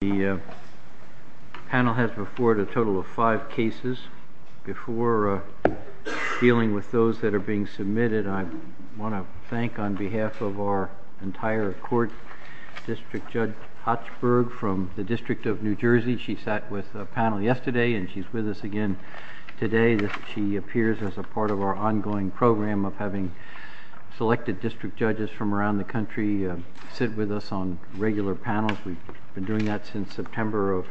The panel has before it a total of five cases. Before dealing with those that are being submitted, I want to thank, on behalf of our entire court, District Judge Hatchberg from the District of New Jersey. She sat with the panel yesterday and she's with us again today. She appears as a part of our ongoing program of having selected district judges from around the country sit with us on regular panels. We've been doing that since September of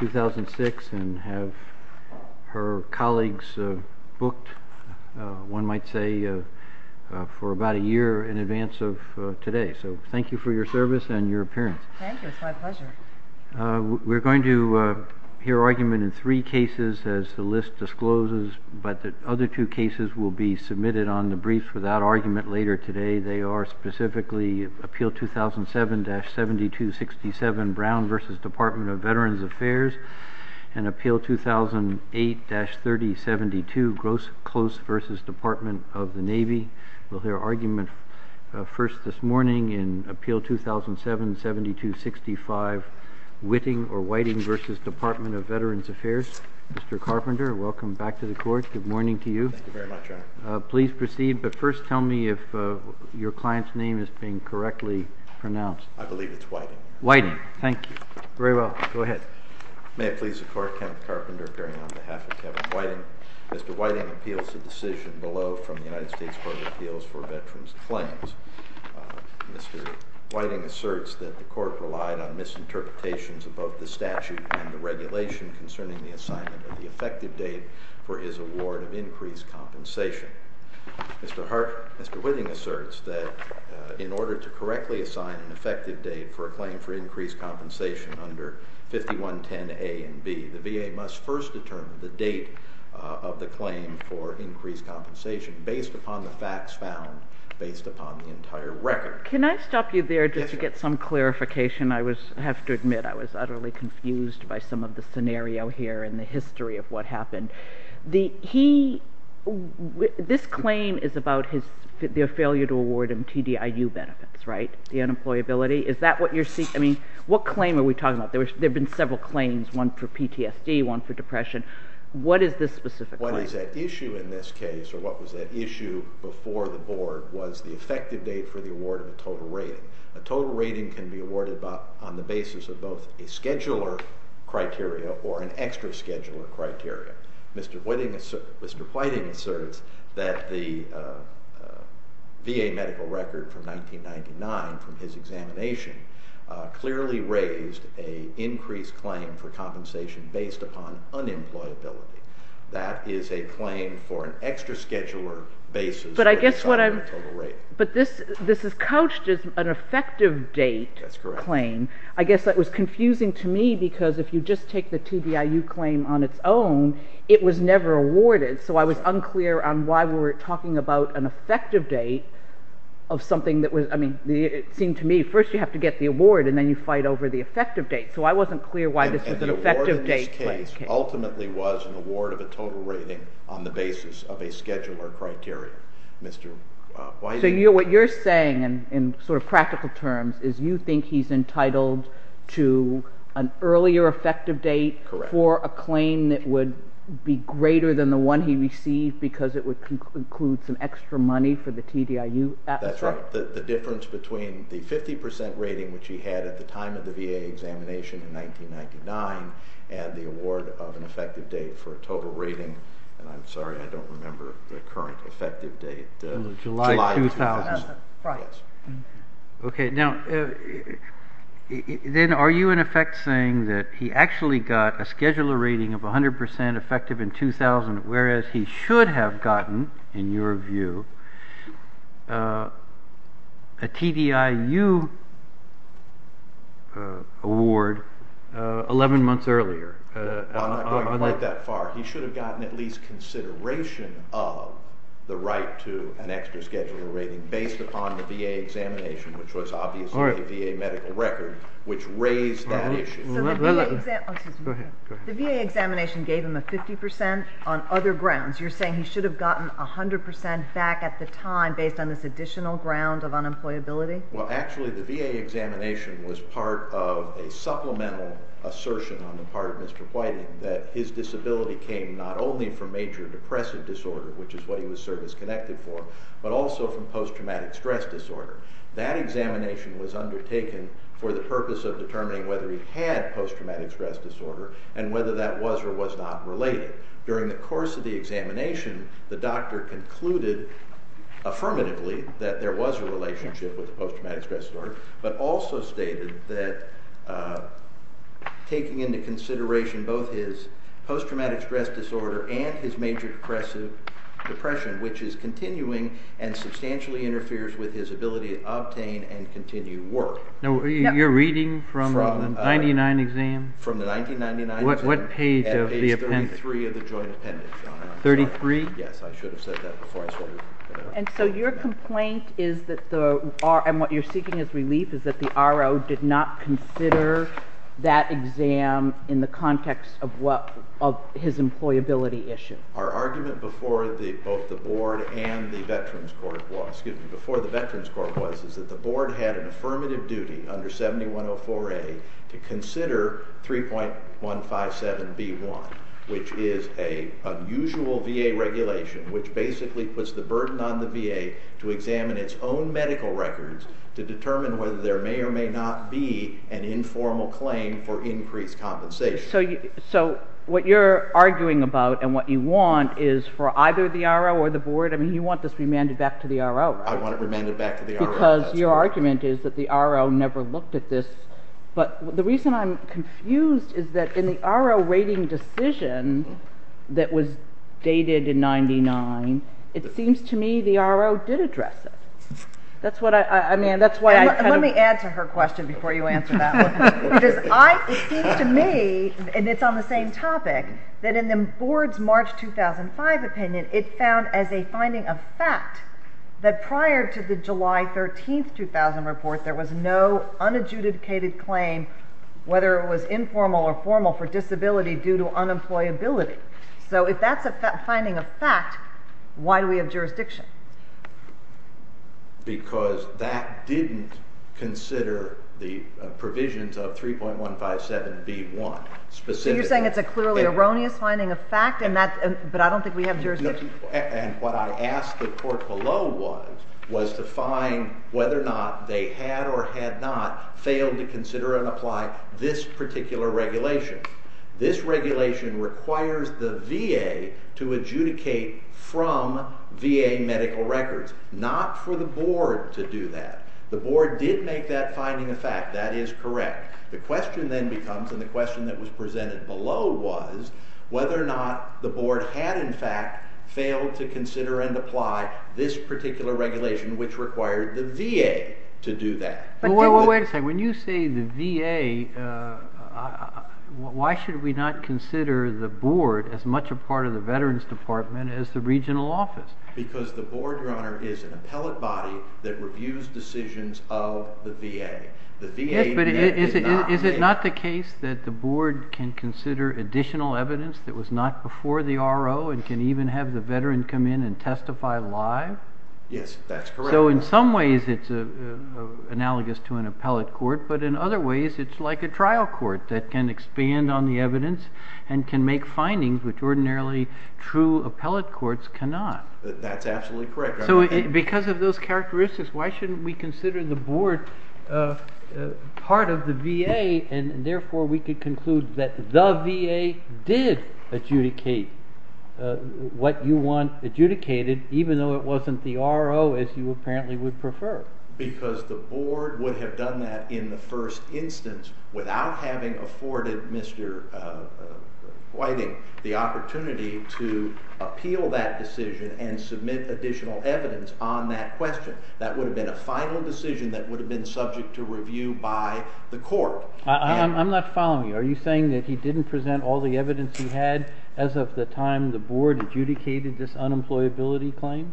2006 and have her colleagues booked, one might say, for about a year in advance of today. So thank you for your service and your appearance. Thank you. It's my pleasure. We're going to hear argument in three cases as the list discloses, but the other two cases will be submitted on the brief for that argument later today. They are specifically Appeal 2007-7267 Brown v. Department of Veterans Affairs and Appeal 2008-3072 Gross Close v. Department of the Navy. We'll hear argument first this morning in Appeal 2007-7265 Whiting v. Department of Veterans Affairs. Mr. Carpenter, welcome back to the court. Good morning to you. Thank you very much, Your Honor. Please proceed, but first tell me if your client's name is being correctly pronounced. I believe it's Whiting. Whiting, thank you. Very well, go ahead. May it please the court, Kenneth Carpenter appearing on behalf of Kevin Whiting. Mr. Whiting appeals the decision below from the United States Court of Appeals for Veterans Claims. Mr. Whiting asserts that the court relied on misinterpretations of both the statute and the award of increased compensation. Mr. Whiting asserts that in order to correctly assign an effective date for a claim for increased compensation under 5110A and B, the VA must first determine the date of the claim for increased compensation based upon the facts found, based upon the entire record. Can I stop you there just to get some clarification? I was, I have to admit, I was utterly confused by some of the scenario here and the history of what happened. The, he, this claim is about his failure to award him TDIU benefits, right? The unemployability? Is that what you're seeking? I mean, what claim are we talking about? There have been several claims, one for PTSD, one for depression. What is this specific claim? What is at issue in this case, or what was at issue before the board was the effective date for the award of a total rating. A total rating can be awarded on the basis of both a scheduler criteria or an extra scheduler criteria. Mr. Whiting, Mr. Whiting asserts that the VA medical record from 1999, from his examination, clearly raised a increased claim for compensation based upon unemployability. That is a claim for an extra scheduler basis. But I guess what I'm, but this, this is couched as an effective date claim. I guess that was just take the TDIU claim on its own. It was never awarded. So I was unclear on why we were talking about an effective date of something that was, I mean, it seemed to me first you have to get the award and then you fight over the effective date. So I wasn't clear why this was an effective date case. Ultimately was an award of a total rating on the basis of a scheduler criteria. Mr. Whiting. So you're, what you're saying in sort of practical terms is you think he's entitled to an earlier effective date for a claim that would be greater than the one he received because it would include some extra money for the TDIU. That's right. The difference between the 50% rating, which he had at the time of the VA examination in 1999 and the award of an effective date for a total rating. And I'm sorry, I don't remember the current effective date. July 2000. Okay. Now then are you in effect saying that he actually got a scheduler rating of a hundred percent effective in 2000, whereas he should have gotten in your view a TDIU award 11 months earlier. I'm not going quite that far. He should have gotten at least consideration of the right to an extra scheduler rating based upon the VA examination, which was obviously a VA medical record, which raised that issue. The VA examination gave him a 50% on other grounds. You're saying he should have gotten a hundred percent back at the time based on this additional ground of unemployability. Well, actually the VA examination was part of a supplemental assertion on the part of Mr. Whiting that his disability came not only from major depressive disorder, which is what he was service-connected for, but also from post-traumatic stress disorder. That examination was undertaken for the purpose of determining whether he had post-traumatic stress disorder and whether that was or was not related. During the course of the examination, the doctor concluded affirmatively that there was a relationship with the post-traumatic stress disorder, but also stated that taking into consideration both his post-traumatic stress disorder and his major depressive depression, which is continuing and substantially interferes with his ability to obtain and continue work. You're reading from the 1999 exam? From the 1999 exam. What page of the appendix? Page 33 of the joint appendix. 33? Yes, I should have said that before I started. And so your complaint is that the RO, and what you're seeking his employability issue. Our argument before the both the board and the veterans court was, excuse me, before the veterans court was, is that the board had an affirmative duty under 7104A to consider 3.157B1, which is a unusual VA regulation, which basically puts the burden on the VA to examine its own medical records to determine whether there may or may not be an informal claim for increased compensation. So what you're arguing about and what you want is for either the RO or the board, I mean, you want this remanded back to the RO. I want it remanded back to the RO. Because your argument is that the RO never looked at this, but the reason I'm confused is that in the RO rating decision that was dated in 99, it seems to me the RO did not look at it. It seems to me, and it's on the same topic, that in the board's March 2005 opinion, it found as a finding of fact that prior to the July 13, 2000 report, there was no unadjudicated claim, whether it was informal or formal for disability due to unemployability. So if that's a finding of fact, why do we have jurisdiction? Because that didn't consider the provisions of 3.157B1 specifically. So you're saying it's a clearly erroneous finding of fact, but I don't think we have jurisdiction? And what I asked the court below was to find whether or not they had or had not failed to consider and apply this particular regulation. This regulation requires the VA to adjudicate from VA medical records, not for the board to do that. The board did make that finding of fact. That is correct. The question then becomes, and the question that was presented below was, whether or not the board had in fact failed to consider and apply this particular regulation, which required the VA to do that. Wait a second. When you say the VA, why should we not consider the board as much a part of the Veterans Department as the regional office? Because the board, Your Honor, is an appellate body that reviews decisions of the VA. Is it not the case that the board can consider additional evidence that was not before the RO and can even have the veteran come in and testify live? Yes, that's correct. So in some ways it's analogous to an appellate court, but in other ways it's like a trial court that can expand on the evidence and can make findings which ordinarily true appellate courts cannot. That's absolutely correct. So because of those characteristics, why shouldn't we consider the board part of the VA and therefore we can conclude that the VA did adjudicate what you want even though it wasn't the RO as you apparently would prefer? Because the board would have done that in the first instance without having afforded Mr. Whiting the opportunity to appeal that decision and submit additional evidence on that question. That would have been a final decision that would have been subject to review by the court. I'm not following you. Are you saying that he didn't present all the evidence he had as of the time the board adjudicated this unemployability claim?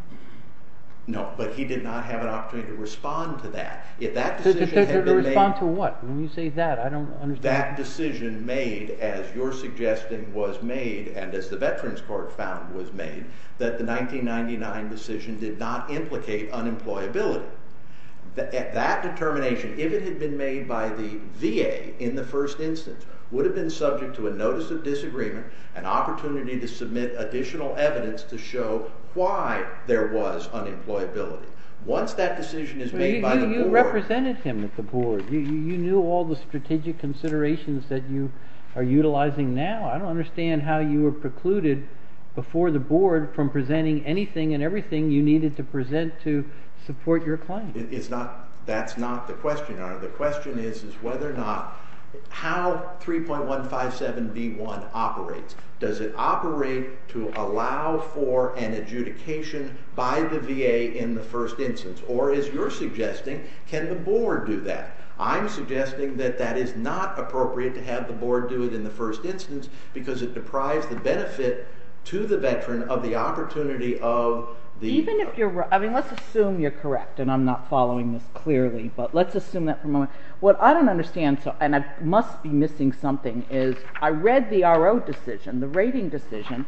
No, but he did not have an opportunity to respond to that. To respond to what? When you say that I don't understand. That decision made as your suggestion was made and as the Veterans Court found was made that the 1999 decision did not implicate unemployability. That determination, if it had been made by the VA in the first instance, would have been subject to a notice of disagreement, an opportunity to submit additional evidence to show why there was unemployability. Once that decision is made by the board. You represented him at the board. You knew all the strategic considerations that you are utilizing now. I don't understand how you were precluded before the board from presenting anything and everything you needed to present to the board. The question is whether or not how 3.157b1 operates. Does it operate to allow for an adjudication by the VA in the first instance? Or as you're suggesting, can the board do that? I'm suggesting that that is not appropriate to have the board do it in the first instance because it deprives the benefit to the veteran of the opportunity. Let's assume you're correct and I'm not following this clearly, but let's assume that for a moment. What I don't understand, and I must be missing something, is I read the R.O. decision, the rating decision,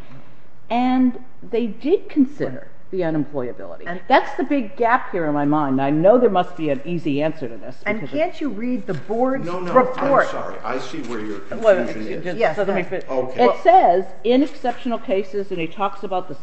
and they did consider the unemployability. That's the big gap here in my mind. I know there must be an easy answer to this. And can't you read the board's report? No, no, I'm sorry. I see where your confusion is. It says, in exceptional cases, and he talks about the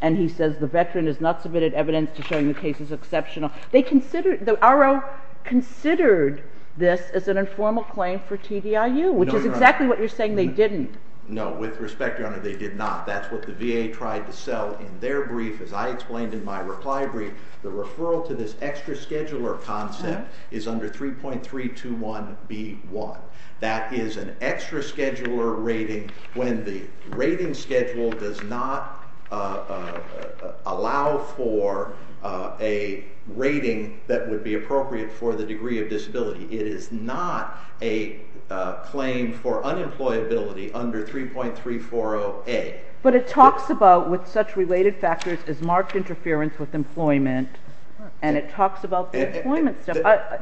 and he says the veteran has not submitted evidence to showing the case is exceptional. The R.O. considered this as an informal claim for TDIU, which is exactly what you're saying they didn't. No, with respect, your honor, they did not. That's what the VA tried to sell in their brief. As I explained in my reply brief, the referral to this extra scheduler concept is under 3.321b1. That is an extra scheduler rating when the rating schedule does not allow for a rating that would be appropriate for the degree of disability. It is not a claim for unemployability under 3.340a. But it talks about with such related factors as marked interference with employment and it talks about the employment stuff.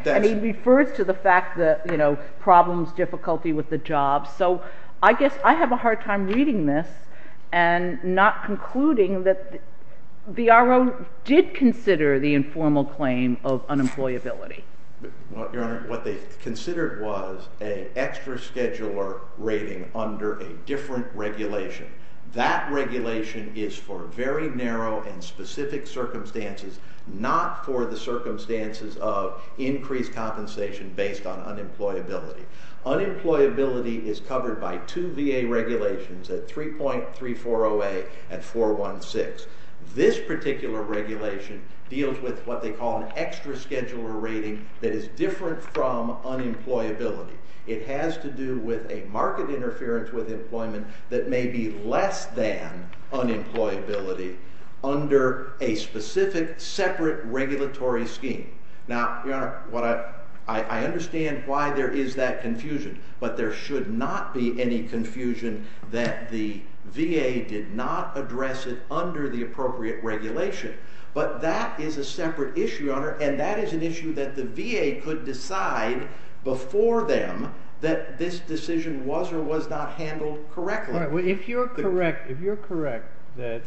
And he refers to the fact that, you know, problems, difficulty with the job. So I guess I have a hard time reading this and not concluding that the R.O. did consider the informal claim of unemployability. Well, your honor, what they considered was an extra scheduler rating under a different regulation. That regulation is for very narrow and specific circumstances, not for the circumstances of increased compensation based on unemployability. Unemployability is covered by two VA regulations at 3.340a and 416. This particular regulation deals with what they call an extra scheduler rating that is different from unemployability. It has to do with a marked interference with under a specific separate regulatory scheme. Now, your honor, I understand why there is that confusion. But there should not be any confusion that the VA did not address it under the appropriate regulation. But that is a separate issue, your honor, and that is an issue that the VA could decide before them that this decision was or was not handled correctly. If you are correct that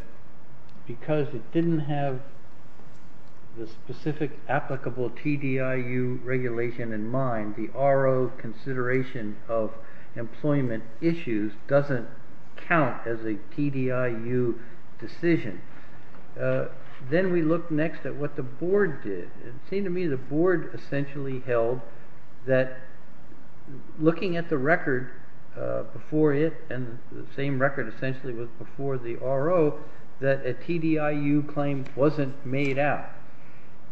because it did not have the specific applicable TDIU regulation in mind, the R.O. consideration of employment issues does not count as a TDIU decision, then we look next at what the board did. It seemed to me the board essentially held that looking at the record before it and the same record essentially was before the R.O., that a TDIU claim wasn't made out.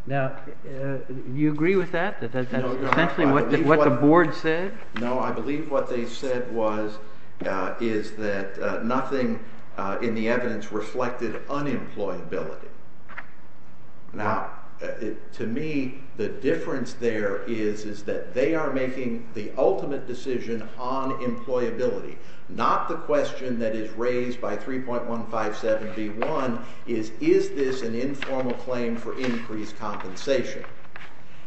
Now, you agree with that, that that's essentially what the board said? No, I believe what they said was is that nothing in the evidence reflected unemployability. Now, to me, the difference there is is that they are making the ultimate decision on employability, not the question that is raised by 3.157B1 is, is this an informal claim for increased compensation?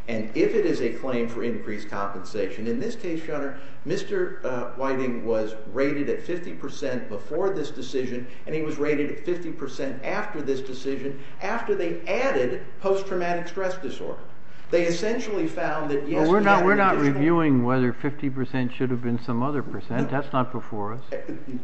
And if it is a claim for increased compensation, in this case, your honor, Mr. Whiting was rated at 50% before this decision and he was rated at 50% after this decision after they added post-traumatic stress disorder. They essentially found that yes, we're not, we're not reviewing whether 50% should have been some other percent. That's not before us.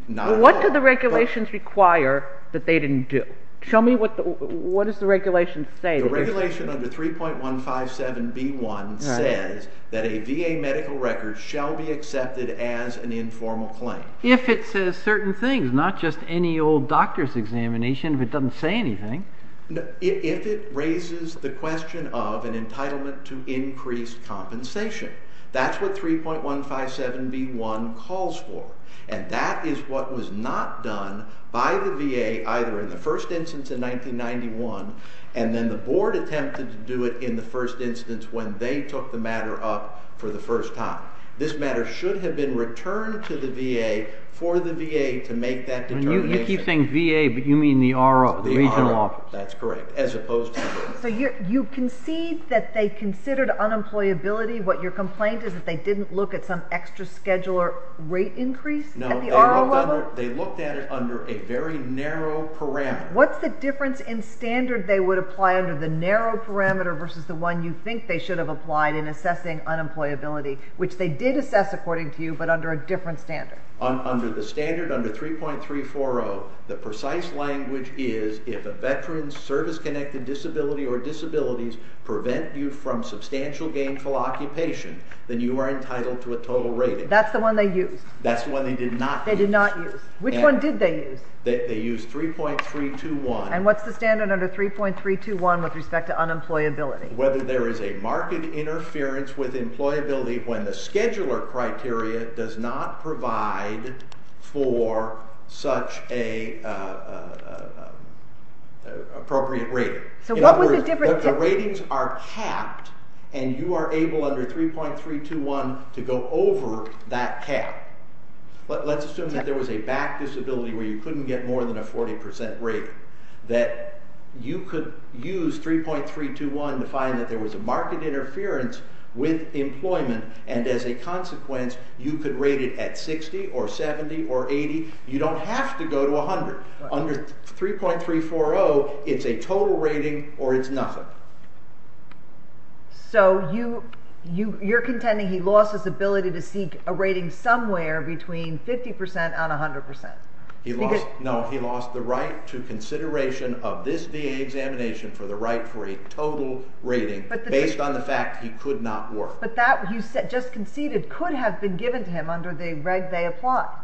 What do the regulations require that they didn't do? Show me what the, what does the regulation say? The regulation under 3.157B1 says that a VA medical record shall be accepted as an informal claim. If it says certain things, not just any old examination, if it doesn't say anything. If it raises the question of an entitlement to increased compensation, that's what 3.157B1 calls for and that is what was not done by the VA either in the first instance in 1991 and then the board attempted to do it in the first instance when they took the matter up for the first time. This matter should have been returned to the VA for the VA to make that determination. You keep saying VA, but you mean the RO, the regional office. That's correct, as opposed to... So you concede that they considered unemployability. What your complaint is that they didn't look at some extra scheduler rate increase? No, they looked at it under a very narrow parameter. What's the difference in standard they would apply under the narrow parameter versus the one you think they should have applied in assessing unemployability, which they did assess according to you, but under a different standard? Under the standard, under 3.340, the precise language is if a veteran's service-connected disability or disabilities prevent you from substantial gainful occupation, then you are entitled to a total rating. That's the one they used. That's the one they did not use. Which one did they use? They used 3.321. And what's the standard under 3.321 with respect to unemployability? Whether there is a marked interference with employability when the scheduler criteria does not provide for such a appropriate rating. So what was the difference? The ratings are capped and you are able under 3.321 to go over that cap. Let's assume that there was a back disability where you couldn't get more than a 40 percent rating, that you could use 3.321 to assess employment and as a consequence you could rate it at 60 or 70 or 80. You don't have to go to 100. Under 3.340, it's a total rating or it's nothing. So you're contending he lost his ability to seek a rating somewhere between 50 percent and 100 percent? No, he lost the right to consideration of this VA examination for the right for a total rating based on the fact he could not work. But that you said just conceded could have been given to him under the reg they applied?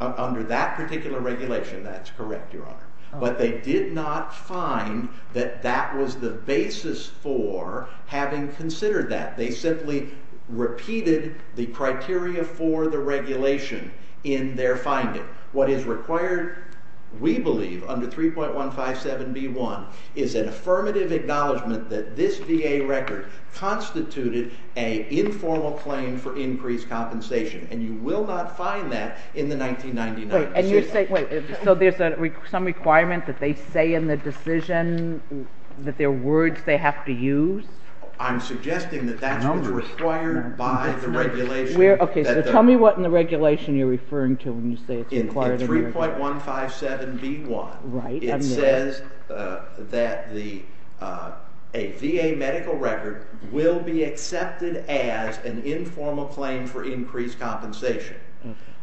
Under that particular regulation, that's correct, Your Honor. But they did not find that that was the basis for having considered that. They simply repeated the criteria for the regulation in their What is required, we believe, under 3.157B1 is an affirmative acknowledgment that this VA record constituted an informal claim for increased compensation and you will not find that in the 1999 decision. So there's some requirement that they say in the decision that there are words they have to use? I'm suggesting that that's what's required by the regulation. Tell me what in the regulation you're referring to when you say it's required. In 3.157B1, it says that a VA medical record will be accepted as an informal claim for increased compensation.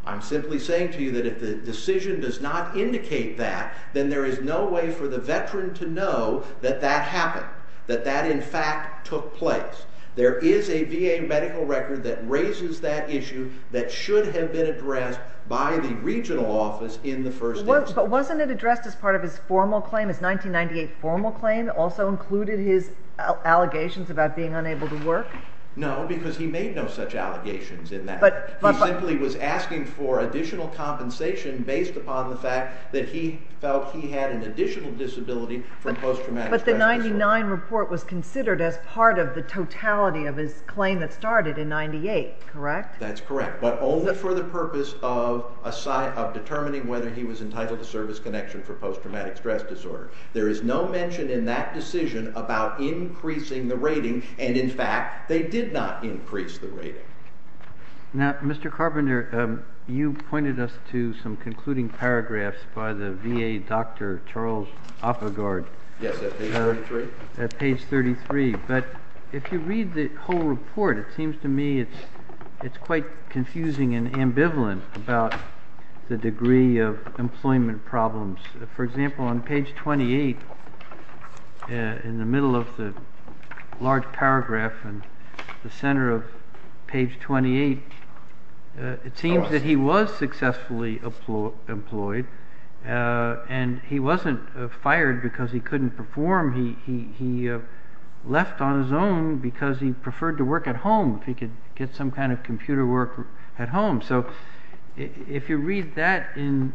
I'm simply saying to you that if the decision does not indicate that, then there is no way for the veteran to know that that happened, that that in fact took place. There is a VA medical record that raises that issue that should have been addressed by the regional office in the first instance. But wasn't it addressed as part of his formal claim, his 1998 formal claim also included his allegations about being unable to work? No, because he made no such allegations in that. He simply was asking for additional compensation based upon the fact that he felt he had an additional disability from post-traumatic stress disorder. But the 99 report was considered as part of the totality of his claim that started in 98, correct? That's correct. But only for the purpose of determining whether he was entitled to service connection for post-traumatic stress disorder. There is no mention in that decision about increasing the rating and in fact they did not increase the rating. Now Mr. Carpenter, you pointed us to some concluding paragraphs by the VA Dr. Charles Oppegaard. Yes, at page 33. At page 33. But if you read the whole report, it seems to me it's quite confusing and ambivalent about the degree of employment problems. For example, on page 28 in the middle of the large paragraph and the center of page 28, it seems that he was successfully employed and he wasn't fired because he couldn't perform. He left on his own because he preferred to work at home if he could get some kind of computer work at home. So if you read that in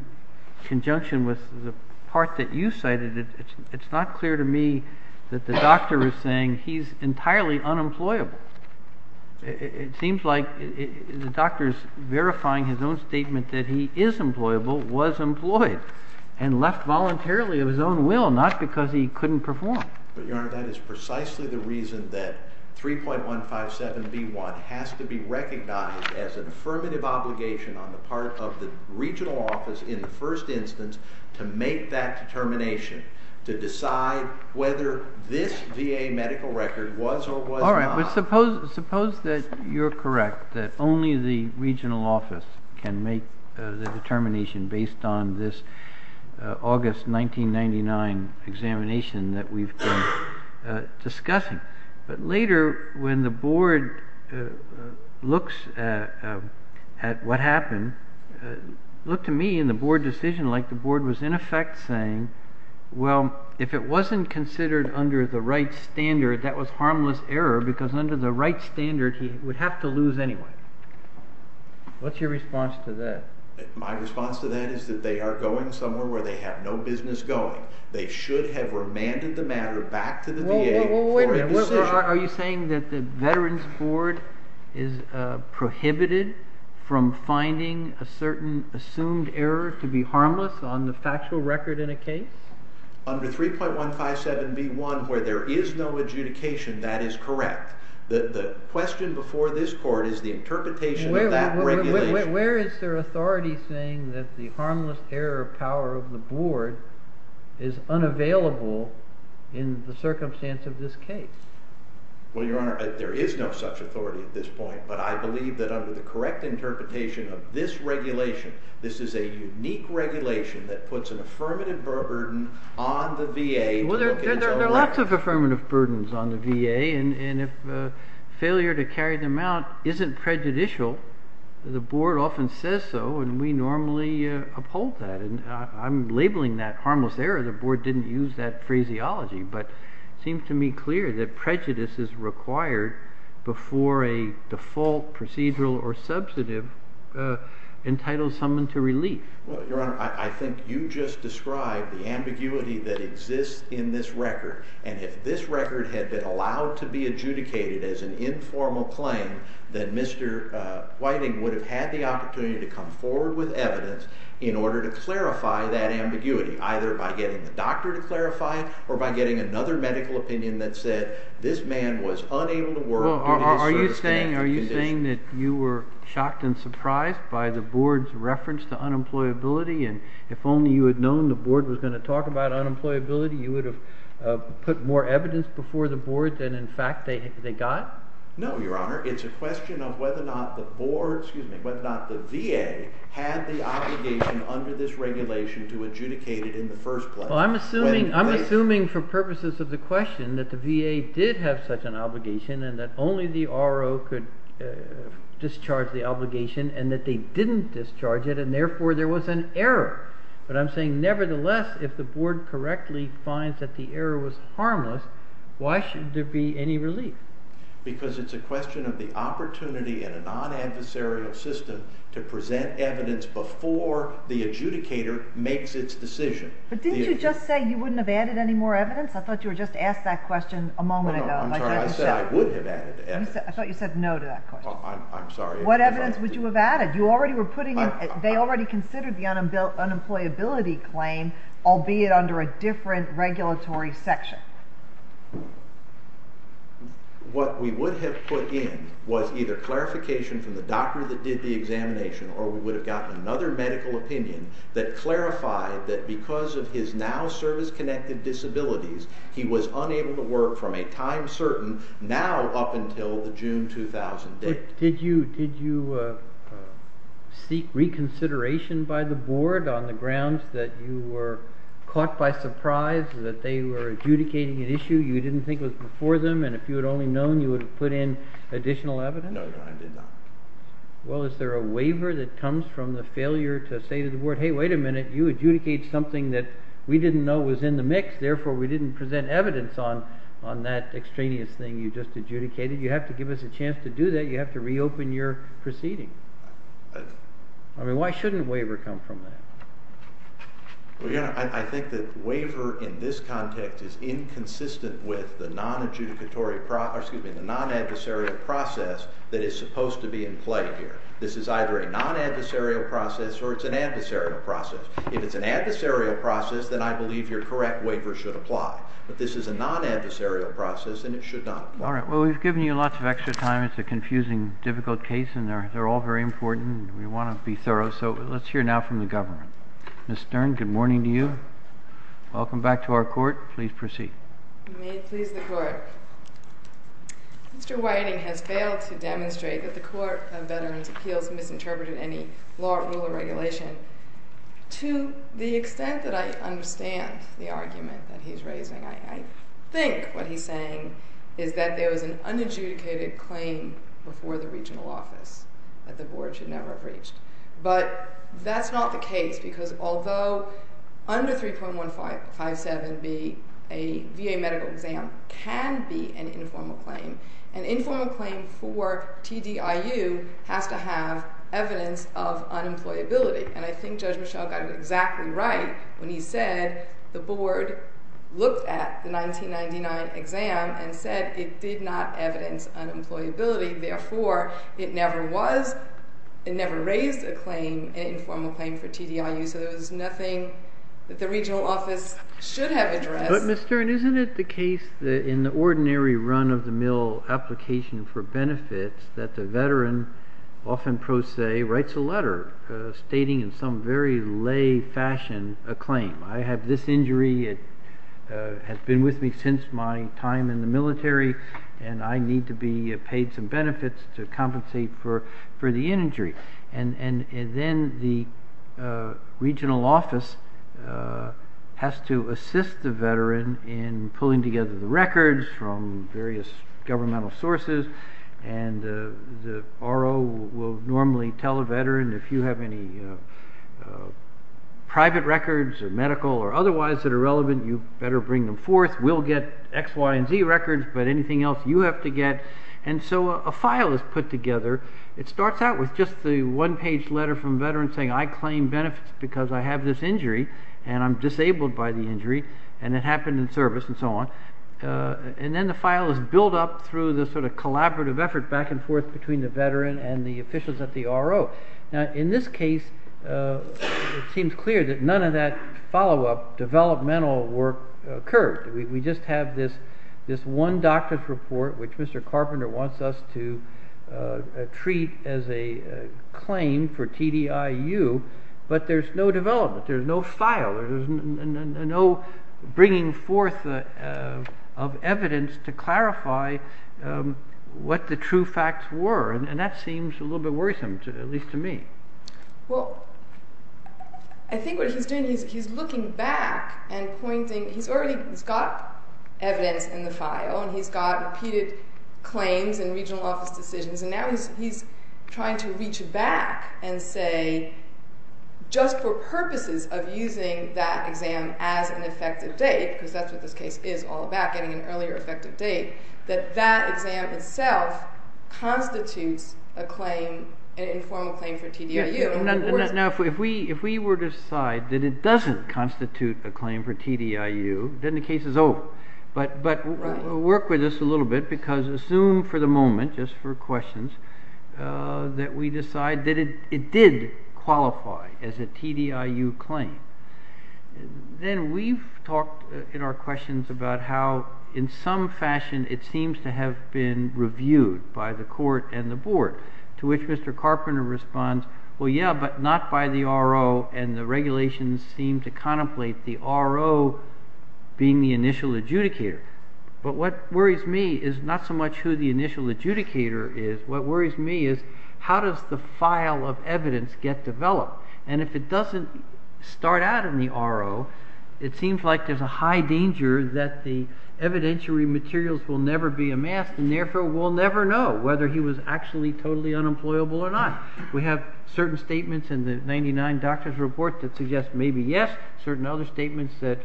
conjunction with the part that you cited, it's not clear to me that the doctor is saying he's employed and left voluntarily of his own will not because he couldn't perform. But your honor, that is precisely the reason that 3.157b1 has to be recognized as an affirmative obligation on the part of the regional office in the first instance to make that determination to decide whether this VA medical record was or was not. All right, but suppose that you're correct that only the based on this August 1999 examination that we've been discussing. But later when the board looks at what happened, look to me in the board decision like the board was in effect saying, well, if it wasn't considered under the right standard, that was harmless error because under the right standard he would have to lose anyway. What's your response to that? My response to that is that they are going somewhere where they have no business going. They should have remanded the matter back to the VA for a decision. Are you saying that the veterans board is prohibited from finding a certain assumed error to be harmless on the factual record in a case? Under 3.157b1 where there is no adjudication, that is correct. The question before this court is the interpretation of that regulation. Where is their authority saying that the harmless error of power of the board is unavailable in the circumstance of this case? Well, your honor, there is no such authority at this point. But I believe that under the correct interpretation of this regulation, this is a unique regulation that puts an affirmative burden on the VA. There are lots of affirmative burdens on the VA and if failure to carry them out isn't prejudicial, the board often says so and we normally uphold that. I'm labeling that harmless error. The board didn't use that phraseology. But it seems to me clear that prejudice is required before a default procedural or substantive entitles someone to relief. Your honor, I think you just described the ambiguity that exists in this record and if this record had been allowed to be adjudicated as an informal claim, then Mr. Whiting would have had the opportunity to come forward with evidence in order to clarify that ambiguity either by getting the doctor to clarify or by getting another medical opinion that said this man was unable to work. Are you saying that you were shocked and surprised by the board's reference to unemployability and if only you had known the board was going to talk about unemployability, you would have put more evidence before the board than in fact they got? No, your honor. It's a question of whether or not the VA had the obligation under this regulation to adjudicate it in the first place. I'm assuming for purposes of the question that the VA did have such an obligation and that only the RO could discharge the obligation and that they didn't discharge it and therefore there was an error. But I'm saying nevertheless, if the board correctly finds that the error was harmless, why should there be any relief? Because it's a question of the opportunity in a non-adversarial system to present evidence before the adjudicator makes its decision. But didn't you just say you wouldn't have added any more evidence? I thought you were just asked that question a moment ago. I thought you said no to that question. I'm sorry. What evidence would you have added? They already considered the unemployability claim, albeit under a different regulatory section. What we would have put in was either clarification from the doctor that did the examination or we would have gotten another medical opinion that clarified that because of his now service-connected disabilities, he was unable to work from a time certain now up until the June 2000 date. Did you seek reconsideration by the board on the grounds that you were caught by surprise that they were adjudicating an issue you didn't think was before them and if you had only known you would have put in additional evidence? No, I did not. Well, is there a waiver that comes from the failure to say to the board, hey, wait a minute, you adjudicate something that we didn't know was in the mix, therefore we didn't present evidence on that extraneous thing you just adjudicated. You have to give us a chance to do that. You have to reopen your proceeding. I mean, why shouldn't a waiver come from that? Well, you know, I think that waiver in this context is inconsistent with the non-adjudicatory process, excuse me, the non-adversarial process that is supposed to be in play here. This is either a non-adversarial process or it's an adversarial process. If it's an adversarial process, then I believe your correct waiver should apply, but this is a non-adversarial process and it should not. All right, well, we've given you lots of extra time. It's a confusing, difficult case and they're Ms. Stern, good morning to you. Welcome back to our court. Please proceed. May it please the court. Mr. Whiting has failed to demonstrate that the Court of Veterans' Appeals misinterpreted any law, rule, or regulation. To the extent that I understand the argument that he's raising, I think what he's saying is that there was an unadjudicated claim before the court because although under 3.157B, a VA medical exam can be an informal claim, an informal claim for TDIU has to have evidence of unemployability. And I think Judge Michel got it exactly right when he said the board looked at the 1999 exam and said it did not evidence unemployability, therefore, it never was, it never raised a claim, an informal claim for TDIU, so there was nothing that the regional office should have addressed. But Ms. Stern, isn't it the case that in the ordinary run-of-the-mill application for benefits that the veteran often pro se writes a letter stating in some very lay fashion a claim. I have this injury, it has been with me since my time in the military, and I need to be paid some benefits to compensate for the injury. And then the regional office has to assist the veteran in pulling together the records from various governmental sources, and the RO will normally tell a veteran if you have any private records or medical or otherwise that are relevant, you better bring them forth, we'll get X, Y, and Z records, but anything else you have to get. And so a file is put together, it starts out with just the one page letter from veterans saying I claim benefits because I have this injury and I'm disabled by the injury, and it happened in service and so on, and then the file is built up through the sort of collaborative effort back and forth between the veteran and the officials at the RO. Now in this case, it seems clear that none of that follow-up developmental work occurred, we just have this one doctor's report which Mr. Carpenter wants us to treat as a claim for TDIU, but there's no development, there's no file, there's no bringing forth of evidence to clarify what the true facts were, and that seems a little bit worrisome, at least to me. Well, I think what he's doing is he's looking back and pointing, he's already, he's got evidence in the file and he's got repeated claims and regional office decisions, and now he's trying to reach back and say just for purposes of using that exam as an effective date, because that's what this case is all about, getting an earlier effective date, that that exam itself constitutes a claim, an informal claim for TDIU. Now if we were to decide that it doesn't constitute a claim for TDIU, then the case is over, but work with us a little bit because assume for the moment, just for questions, that we decide that it did qualify as a TDIU claim, then we've talked in questions about how in some fashion it seems to have been reviewed by the court and the board, to which Mr. Carpenter responds, well yeah, but not by the RO, and the regulations seem to contemplate the RO being the initial adjudicator, but what worries me is not so much who the initial adjudicator is, what worries me is how does the file of evidence get developed, and if it doesn't start out in the RO, it seems like there's a high danger that the evidentiary materials will never be amassed, and therefore we'll never know whether he was actually totally unemployable or not. We have certain statements in the 99 doctors report that suggest maybe yes, certain other statements that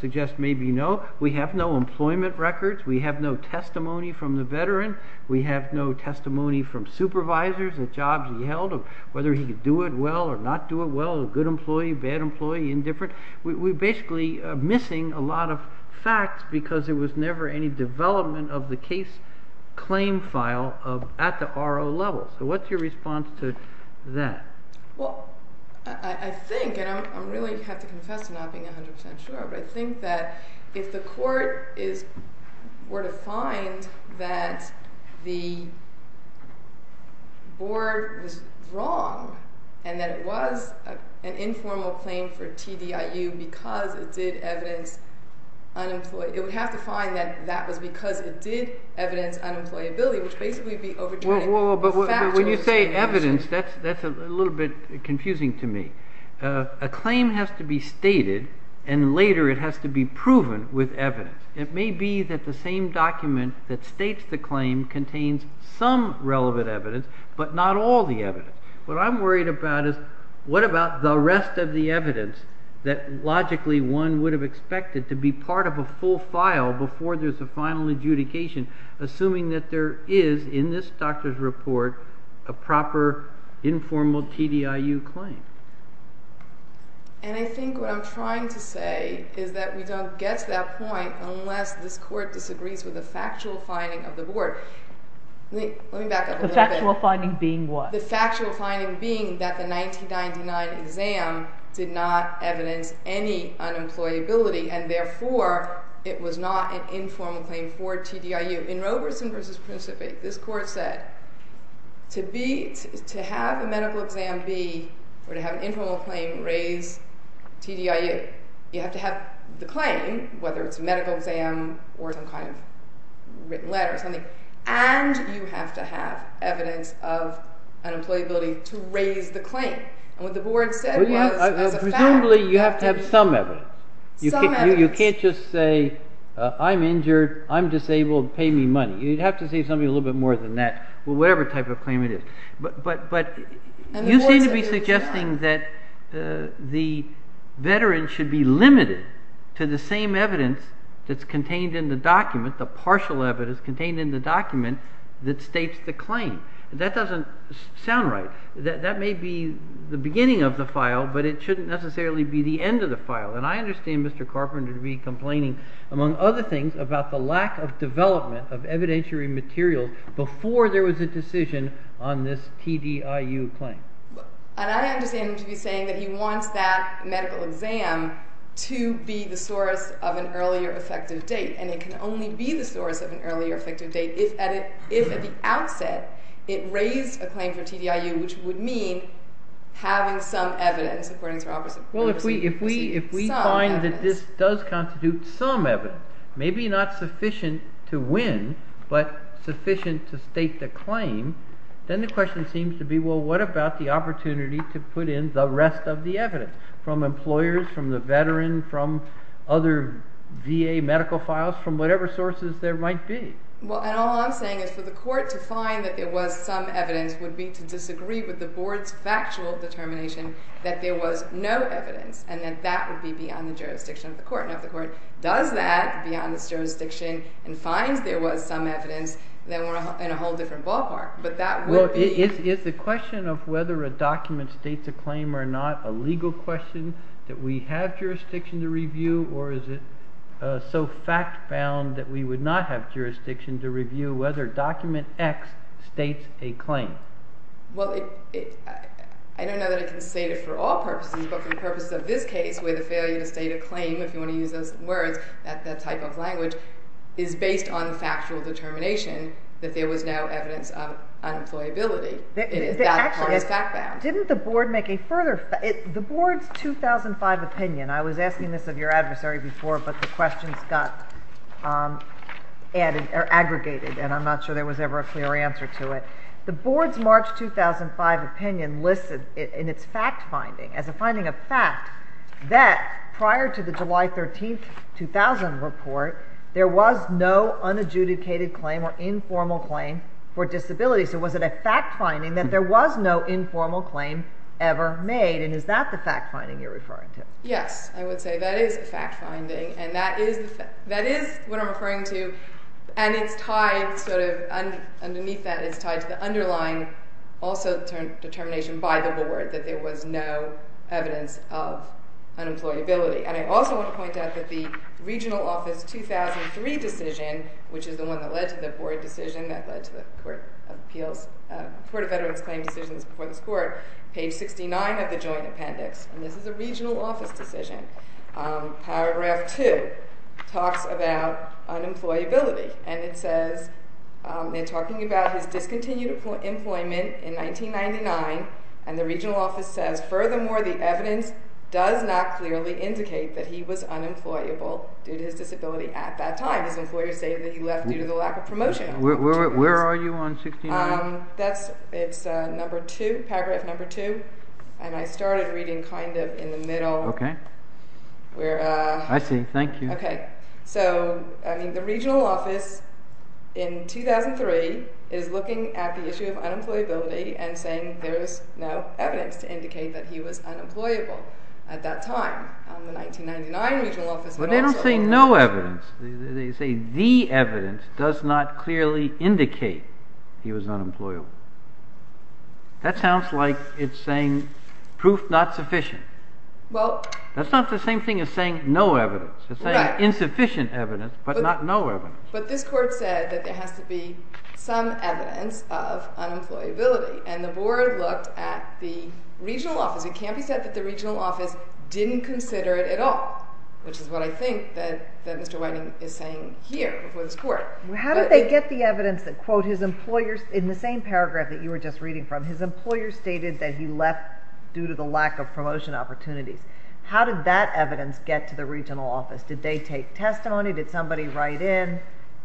suggest maybe no, we have no employment records, we have no testimony from the veteran, we have no testimony from supervisors at jobs he held, or whether he could do it well or not do it well, a good employee, bad employee, indifferent, we're basically missing a lot of facts because there was never any development of the case claim file at the RO level. So what's your response to that? Well I think, and I really have to confess to not being 100% sure, but I think if the court were to find that the board was wrong and that it was an informal claim for TDIU because it did evidence unemployed, it would have to find that that was because it did evidence unemployability, which basically would be overturning a factual statement. But when you say evidence, that's a little bit confusing to me. A claim has to be stated and later it has to be proven with evidence. It may be that the same document that states the claim contains some relevant evidence, but not all the evidence. What I'm worried about is what about the rest of the evidence that logically one would have expected to be part of a full file before there's a final adjudication, assuming that there is in this doctor's report a proper informal TDIU claim. And I think what I'm trying to say is that we don't get to that point unless this court disagrees with the factual finding of the board. Let me back up a little bit. The factual finding being what? The factual finding being that the 1999 exam did not evidence any unemployability and therefore it was not an informal claim for TDIU. In Roberson versus Principe, this court said to have a medical exam be or to have an informal claim raise TDIU, you have to have the claim, whether it's a medical exam or some kind of written letter or something, and you have to have evidence of unemployability to raise the claim. And what the board said was as a fact. Presumably you have to have some evidence. Some evidence. You can't just say I'm injured, I'm disabled, pay me money. You'd have to say something a little bit more than that, whatever type of claim it is. But you seem to be suggesting that the veteran should be limited to the same evidence that's contained in the document, the partial evidence contained in the document that states the claim. That doesn't sound right. That may be the beginning of the file, but it shouldn't necessarily be the end of the file. And I understand Mr. Carpenter to be complaining, among other things, about the lack of development of evidentiary material before there was a decision on this TDIU claim. And I understand him to be saying that he wants that medical exam to be the source of an earlier effective date. And it can only be the source of an earlier effective date if at the outset it raised a claim for TDIU, which would mean having some evidence, according to Robertson. Well, if we find that this does constitute some evidence, maybe not sufficient to win, but sufficient to state the claim, then the question seems to be, well, what about the opportunity to put in the rest of the evidence, from employers, from the veteran, from other VA medical files, from whatever sources there might be? Well, and all I'm saying is for the court to find that there was some evidence would be to disagree with the board's factual determination that there was no evidence, and that that would be beyond the jurisdiction of the court. Now, if the court does that, beyond its jurisdiction, and finds there was some evidence, then we're in a whole different ballpark. But that would be— Is the question of whether a document states a claim or not a legal question that we have jurisdiction to review, or is it so fact-bound that we would not have jurisdiction to review whether document X states a claim? Well, I don't know that I can state it for all purposes, but for the purposes of this case, where the failure to state a claim, if you want to use those words, that type of language, is based on factual determination that there was no evidence of unemployability. That part is fact-bound. Now, didn't the board make a further—the board's 2005 opinion—I was asking this of your adversary before, but the questions got aggregated, and I'm not sure there was ever a clear answer to it. The board's March 2005 opinion listed in its fact-finding, as a finding of fact, that prior to the July 13, 2000 report, there was no unadjudicated claim or informal claim for disability. So was it a fact-finding that there was no informal claim ever made, and is that the fact-finding you're referring to? Yes, I would say that is a fact-finding, and that is what I'm referring to, and it's tied sort of—underneath that, it's tied to the underlying determination by the board that there was no evidence of unemployability. And I also want to point out that the regional office 2003 decision, which is the one that led to the board decision that led to the Court of Veterans Claim Decisions before this court, page 69 of the joint appendix, and this is a regional office decision, paragraph 2, talks about unemployability, and it says—they're talking about his discontinued employment in 1999, and the regional office says, Furthermore, the evidence does not clearly indicate that he was unemployable due to his disability at that time. His employers say that he left due to the lack of promotion. Where are you on 69? That's—it's number 2, paragraph number 2, and I started reading kind of in the middle. Okay. I see. Thank you. Okay. So, I mean, the regional office in 2003 is looking at the issue of unemployability and saying there is no evidence to indicate that he was unemployable at that time. The 1999 regional office— But they don't say no evidence. They say the evidence does not clearly indicate he was unemployable. That sounds like it's saying proof not sufficient. Well— That's not the same thing as saying no evidence. It's saying insufficient evidence, but not no evidence. But this court said that there has to be some evidence of unemployability, and the board looked at the regional office. It can't be said that the regional office didn't consider it at all, which is what I think that Mr. Whiting is saying here before this court. How did they get the evidence that, quote, his employers—in the same paragraph that you were just reading from, his employers stated that he left due to the lack of promotion opportunities. How did that evidence get to the regional office? Did they take testimony? Did somebody write in?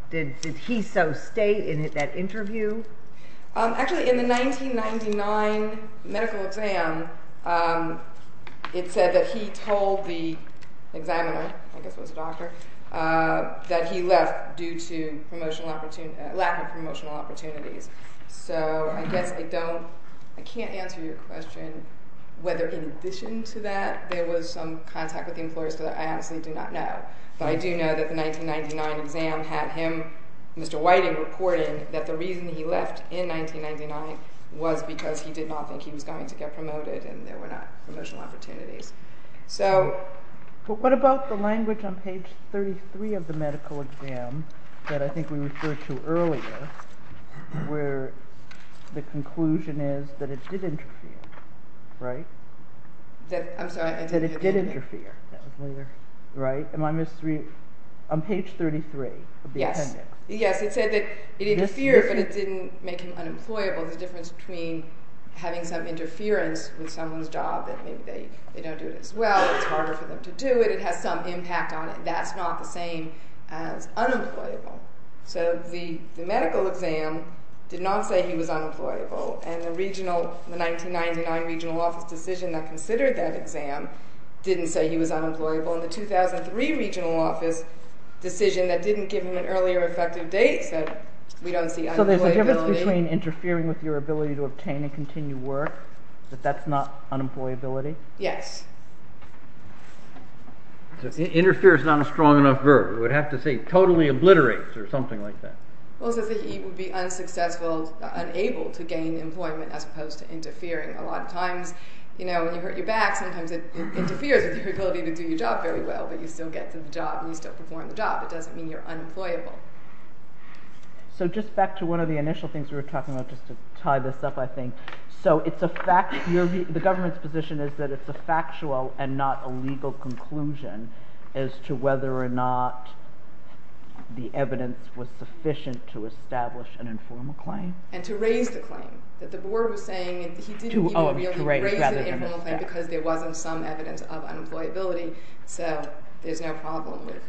Did he so state in that interview? Actually, in the 1999 medical exam, it said that he told the examiner—I guess it was a doctor—that he left due to lack of promotional opportunities. So I guess I don't—I can't answer your question whether, in addition to that, there was some contact with the employers, because I honestly do not know. But I do know that the 1999 exam had him, Mr. Whiting, reporting that the reason he left in 1999 was because he did not think he was going to get promoted and there were not promotional opportunities. But what about the language on page 33 of the medical exam that I think we referred to earlier, where the conclusion is that it did interfere, right? I'm sorry. That it did interfere, right? Am I misreading? On page 33 of the appendix. Yes, it said that it interfered, but it didn't make him unemployable. The difference between having some interference with someone's job, that maybe they don't do it as well, it's harder for them to do it, it has some impact on it, that's not the same as unemployable. So the medical exam did not say he was unemployable, and the 1999 regional office decision that considered that exam didn't say he was unemployable, and the 2003 regional office decision that didn't give him an earlier effective date said we don't see unemployability. So there's a difference between interfering with your ability to obtain and continue work, that that's not unemployability? Yes. Interfere is not a strong enough verb, it would have to say totally obliterates or something like that. Well it says that he would be unsuccessful, unable to gain employment as opposed to interfering. A lot of times, you know, when you hurt your back, sometimes it interferes with your ability to do your job very well, but you still get to the job and you still perform the job. It doesn't mean you're unemployable. So just back to one of the initial things we were talking about, just to tie this up I think, so it's a fact, the government's position is that it's a factual and not a legal conclusion as to whether or not the evidence was sufficient to establish an informal claim? And to raise the claim, that the board was saying he didn't even really raise the informal claim because there wasn't some evidence of unemployability, so there's no problem with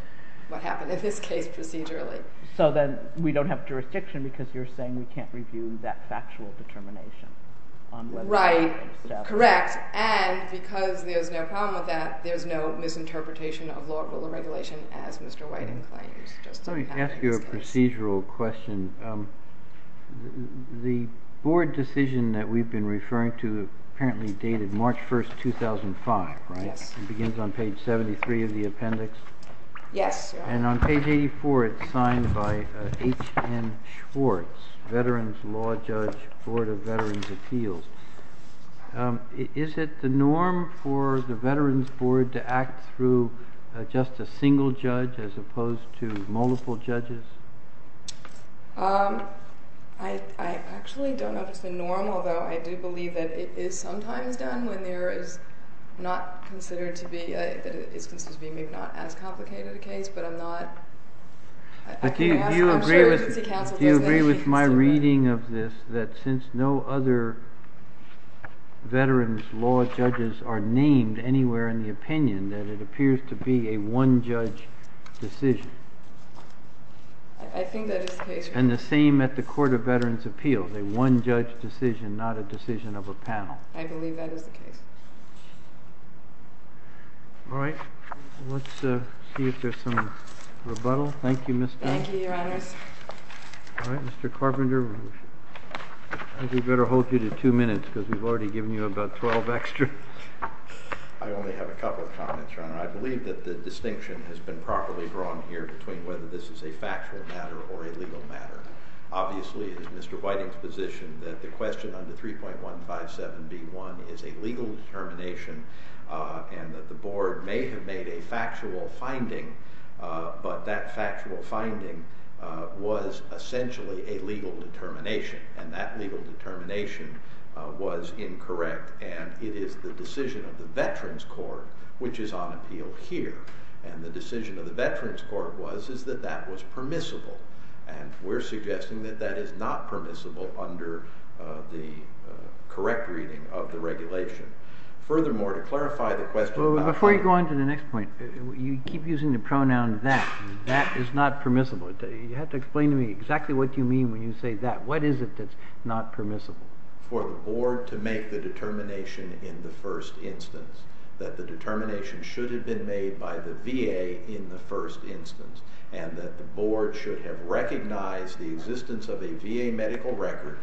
what happened in this case procedurally. So then we don't have jurisdiction because you're saying we can't review that factual determination? Right, correct, and because there's no problem with that, there's no misinterpretation of law or regulation as Mr. Whiting claims. Let me ask you a procedural question. The board decision that we've been referring to apparently dated March 1, 2005, right? It begins on page 73 of the appendix? Yes. And on page 84 it's signed by H. N. Schwartz, Veterans Law Judge, Board of Veterans Appeals. Is it the norm for the Veterans Board to act through just a single judge as opposed to multiple judges? I actually don't know if it's the norm, although I do believe that it is sometimes done when there is not considered to be, that it's considered to be maybe not as complicated a case, but I'm not. Do you agree with my reading of this, that since no other veterans law judges are named anywhere in the opinion, that it appears to be a one-judge decision? I think that is the case. And the same at the Court of Veterans Appeals, a one-judge decision, not a decision of a panel? I believe that is the case. All right. Let's see if there's some rebuttal. Thank you, Mr. Carpenter. Thank you, Your Honors. All right. Mr. Carpenter, I think we better hold you to two minutes because we've already given you about 12 extra. I only have a couple of comments, Your Honor. I believe that the distinction has been properly drawn here between whether this is a factual matter or a legal matter. Obviously, it is Mr. Whiting's position that the question under 3.157B1 is a legal determination and that the Board may have made a factual finding, but that factual finding was essentially a legal determination, and that legal determination was incorrect. And it is the decision of the Veterans Court, which is on appeal here, and the decision of the Veterans Court was is that that was permissible, and we're suggesting that that is not permissible under the correct reading of the regulation. Furthermore, to clarify the question about— Before you go on to the next point, you keep using the pronoun that. That is not permissible. You have to explain to me exactly what you mean when you say that. What is it that's not permissible? For the Board to make the determination in the first instance, that the determination should have been made by the VA in the first instance, and that the Board should have recognized the existence of a VA medical record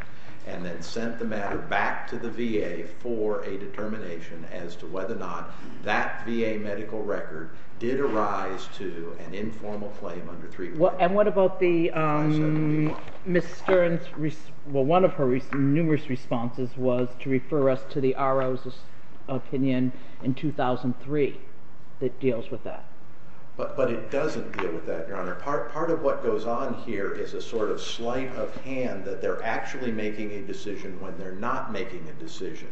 and then sent the matter back to the VA for a determination as to whether or not that VA medical record did arise to an informal claim under 3.157B1. What about Ms. Stern's—well, one of her numerous responses was to refer us to the RO's opinion in 2003 that deals with that. But it doesn't deal with that, Your Honor. Part of what goes on here is a sort of sleight of hand that they're actually making a decision when they're not making a decision.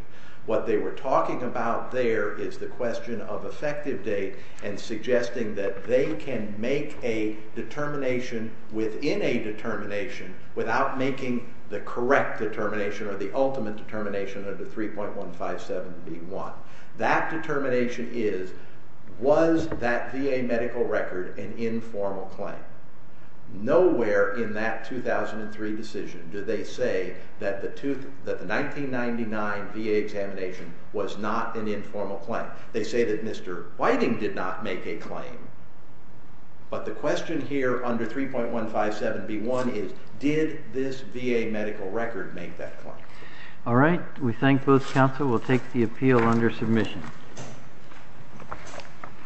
What they were talking about there is the question of effective date and suggesting that they can make a determination within a determination without making the correct determination or the ultimate determination under 3.157B1. That determination is, was that VA medical record an informal claim? Nowhere in that 2003 decision do they say that the 1999 VA examination was not an informal claim. They say that Mr. Whiting did not make a claim. But the question here under 3.157B1 is, did this VA medical record make that claim? All right. We thank both counsel. We'll take the appeal under submission.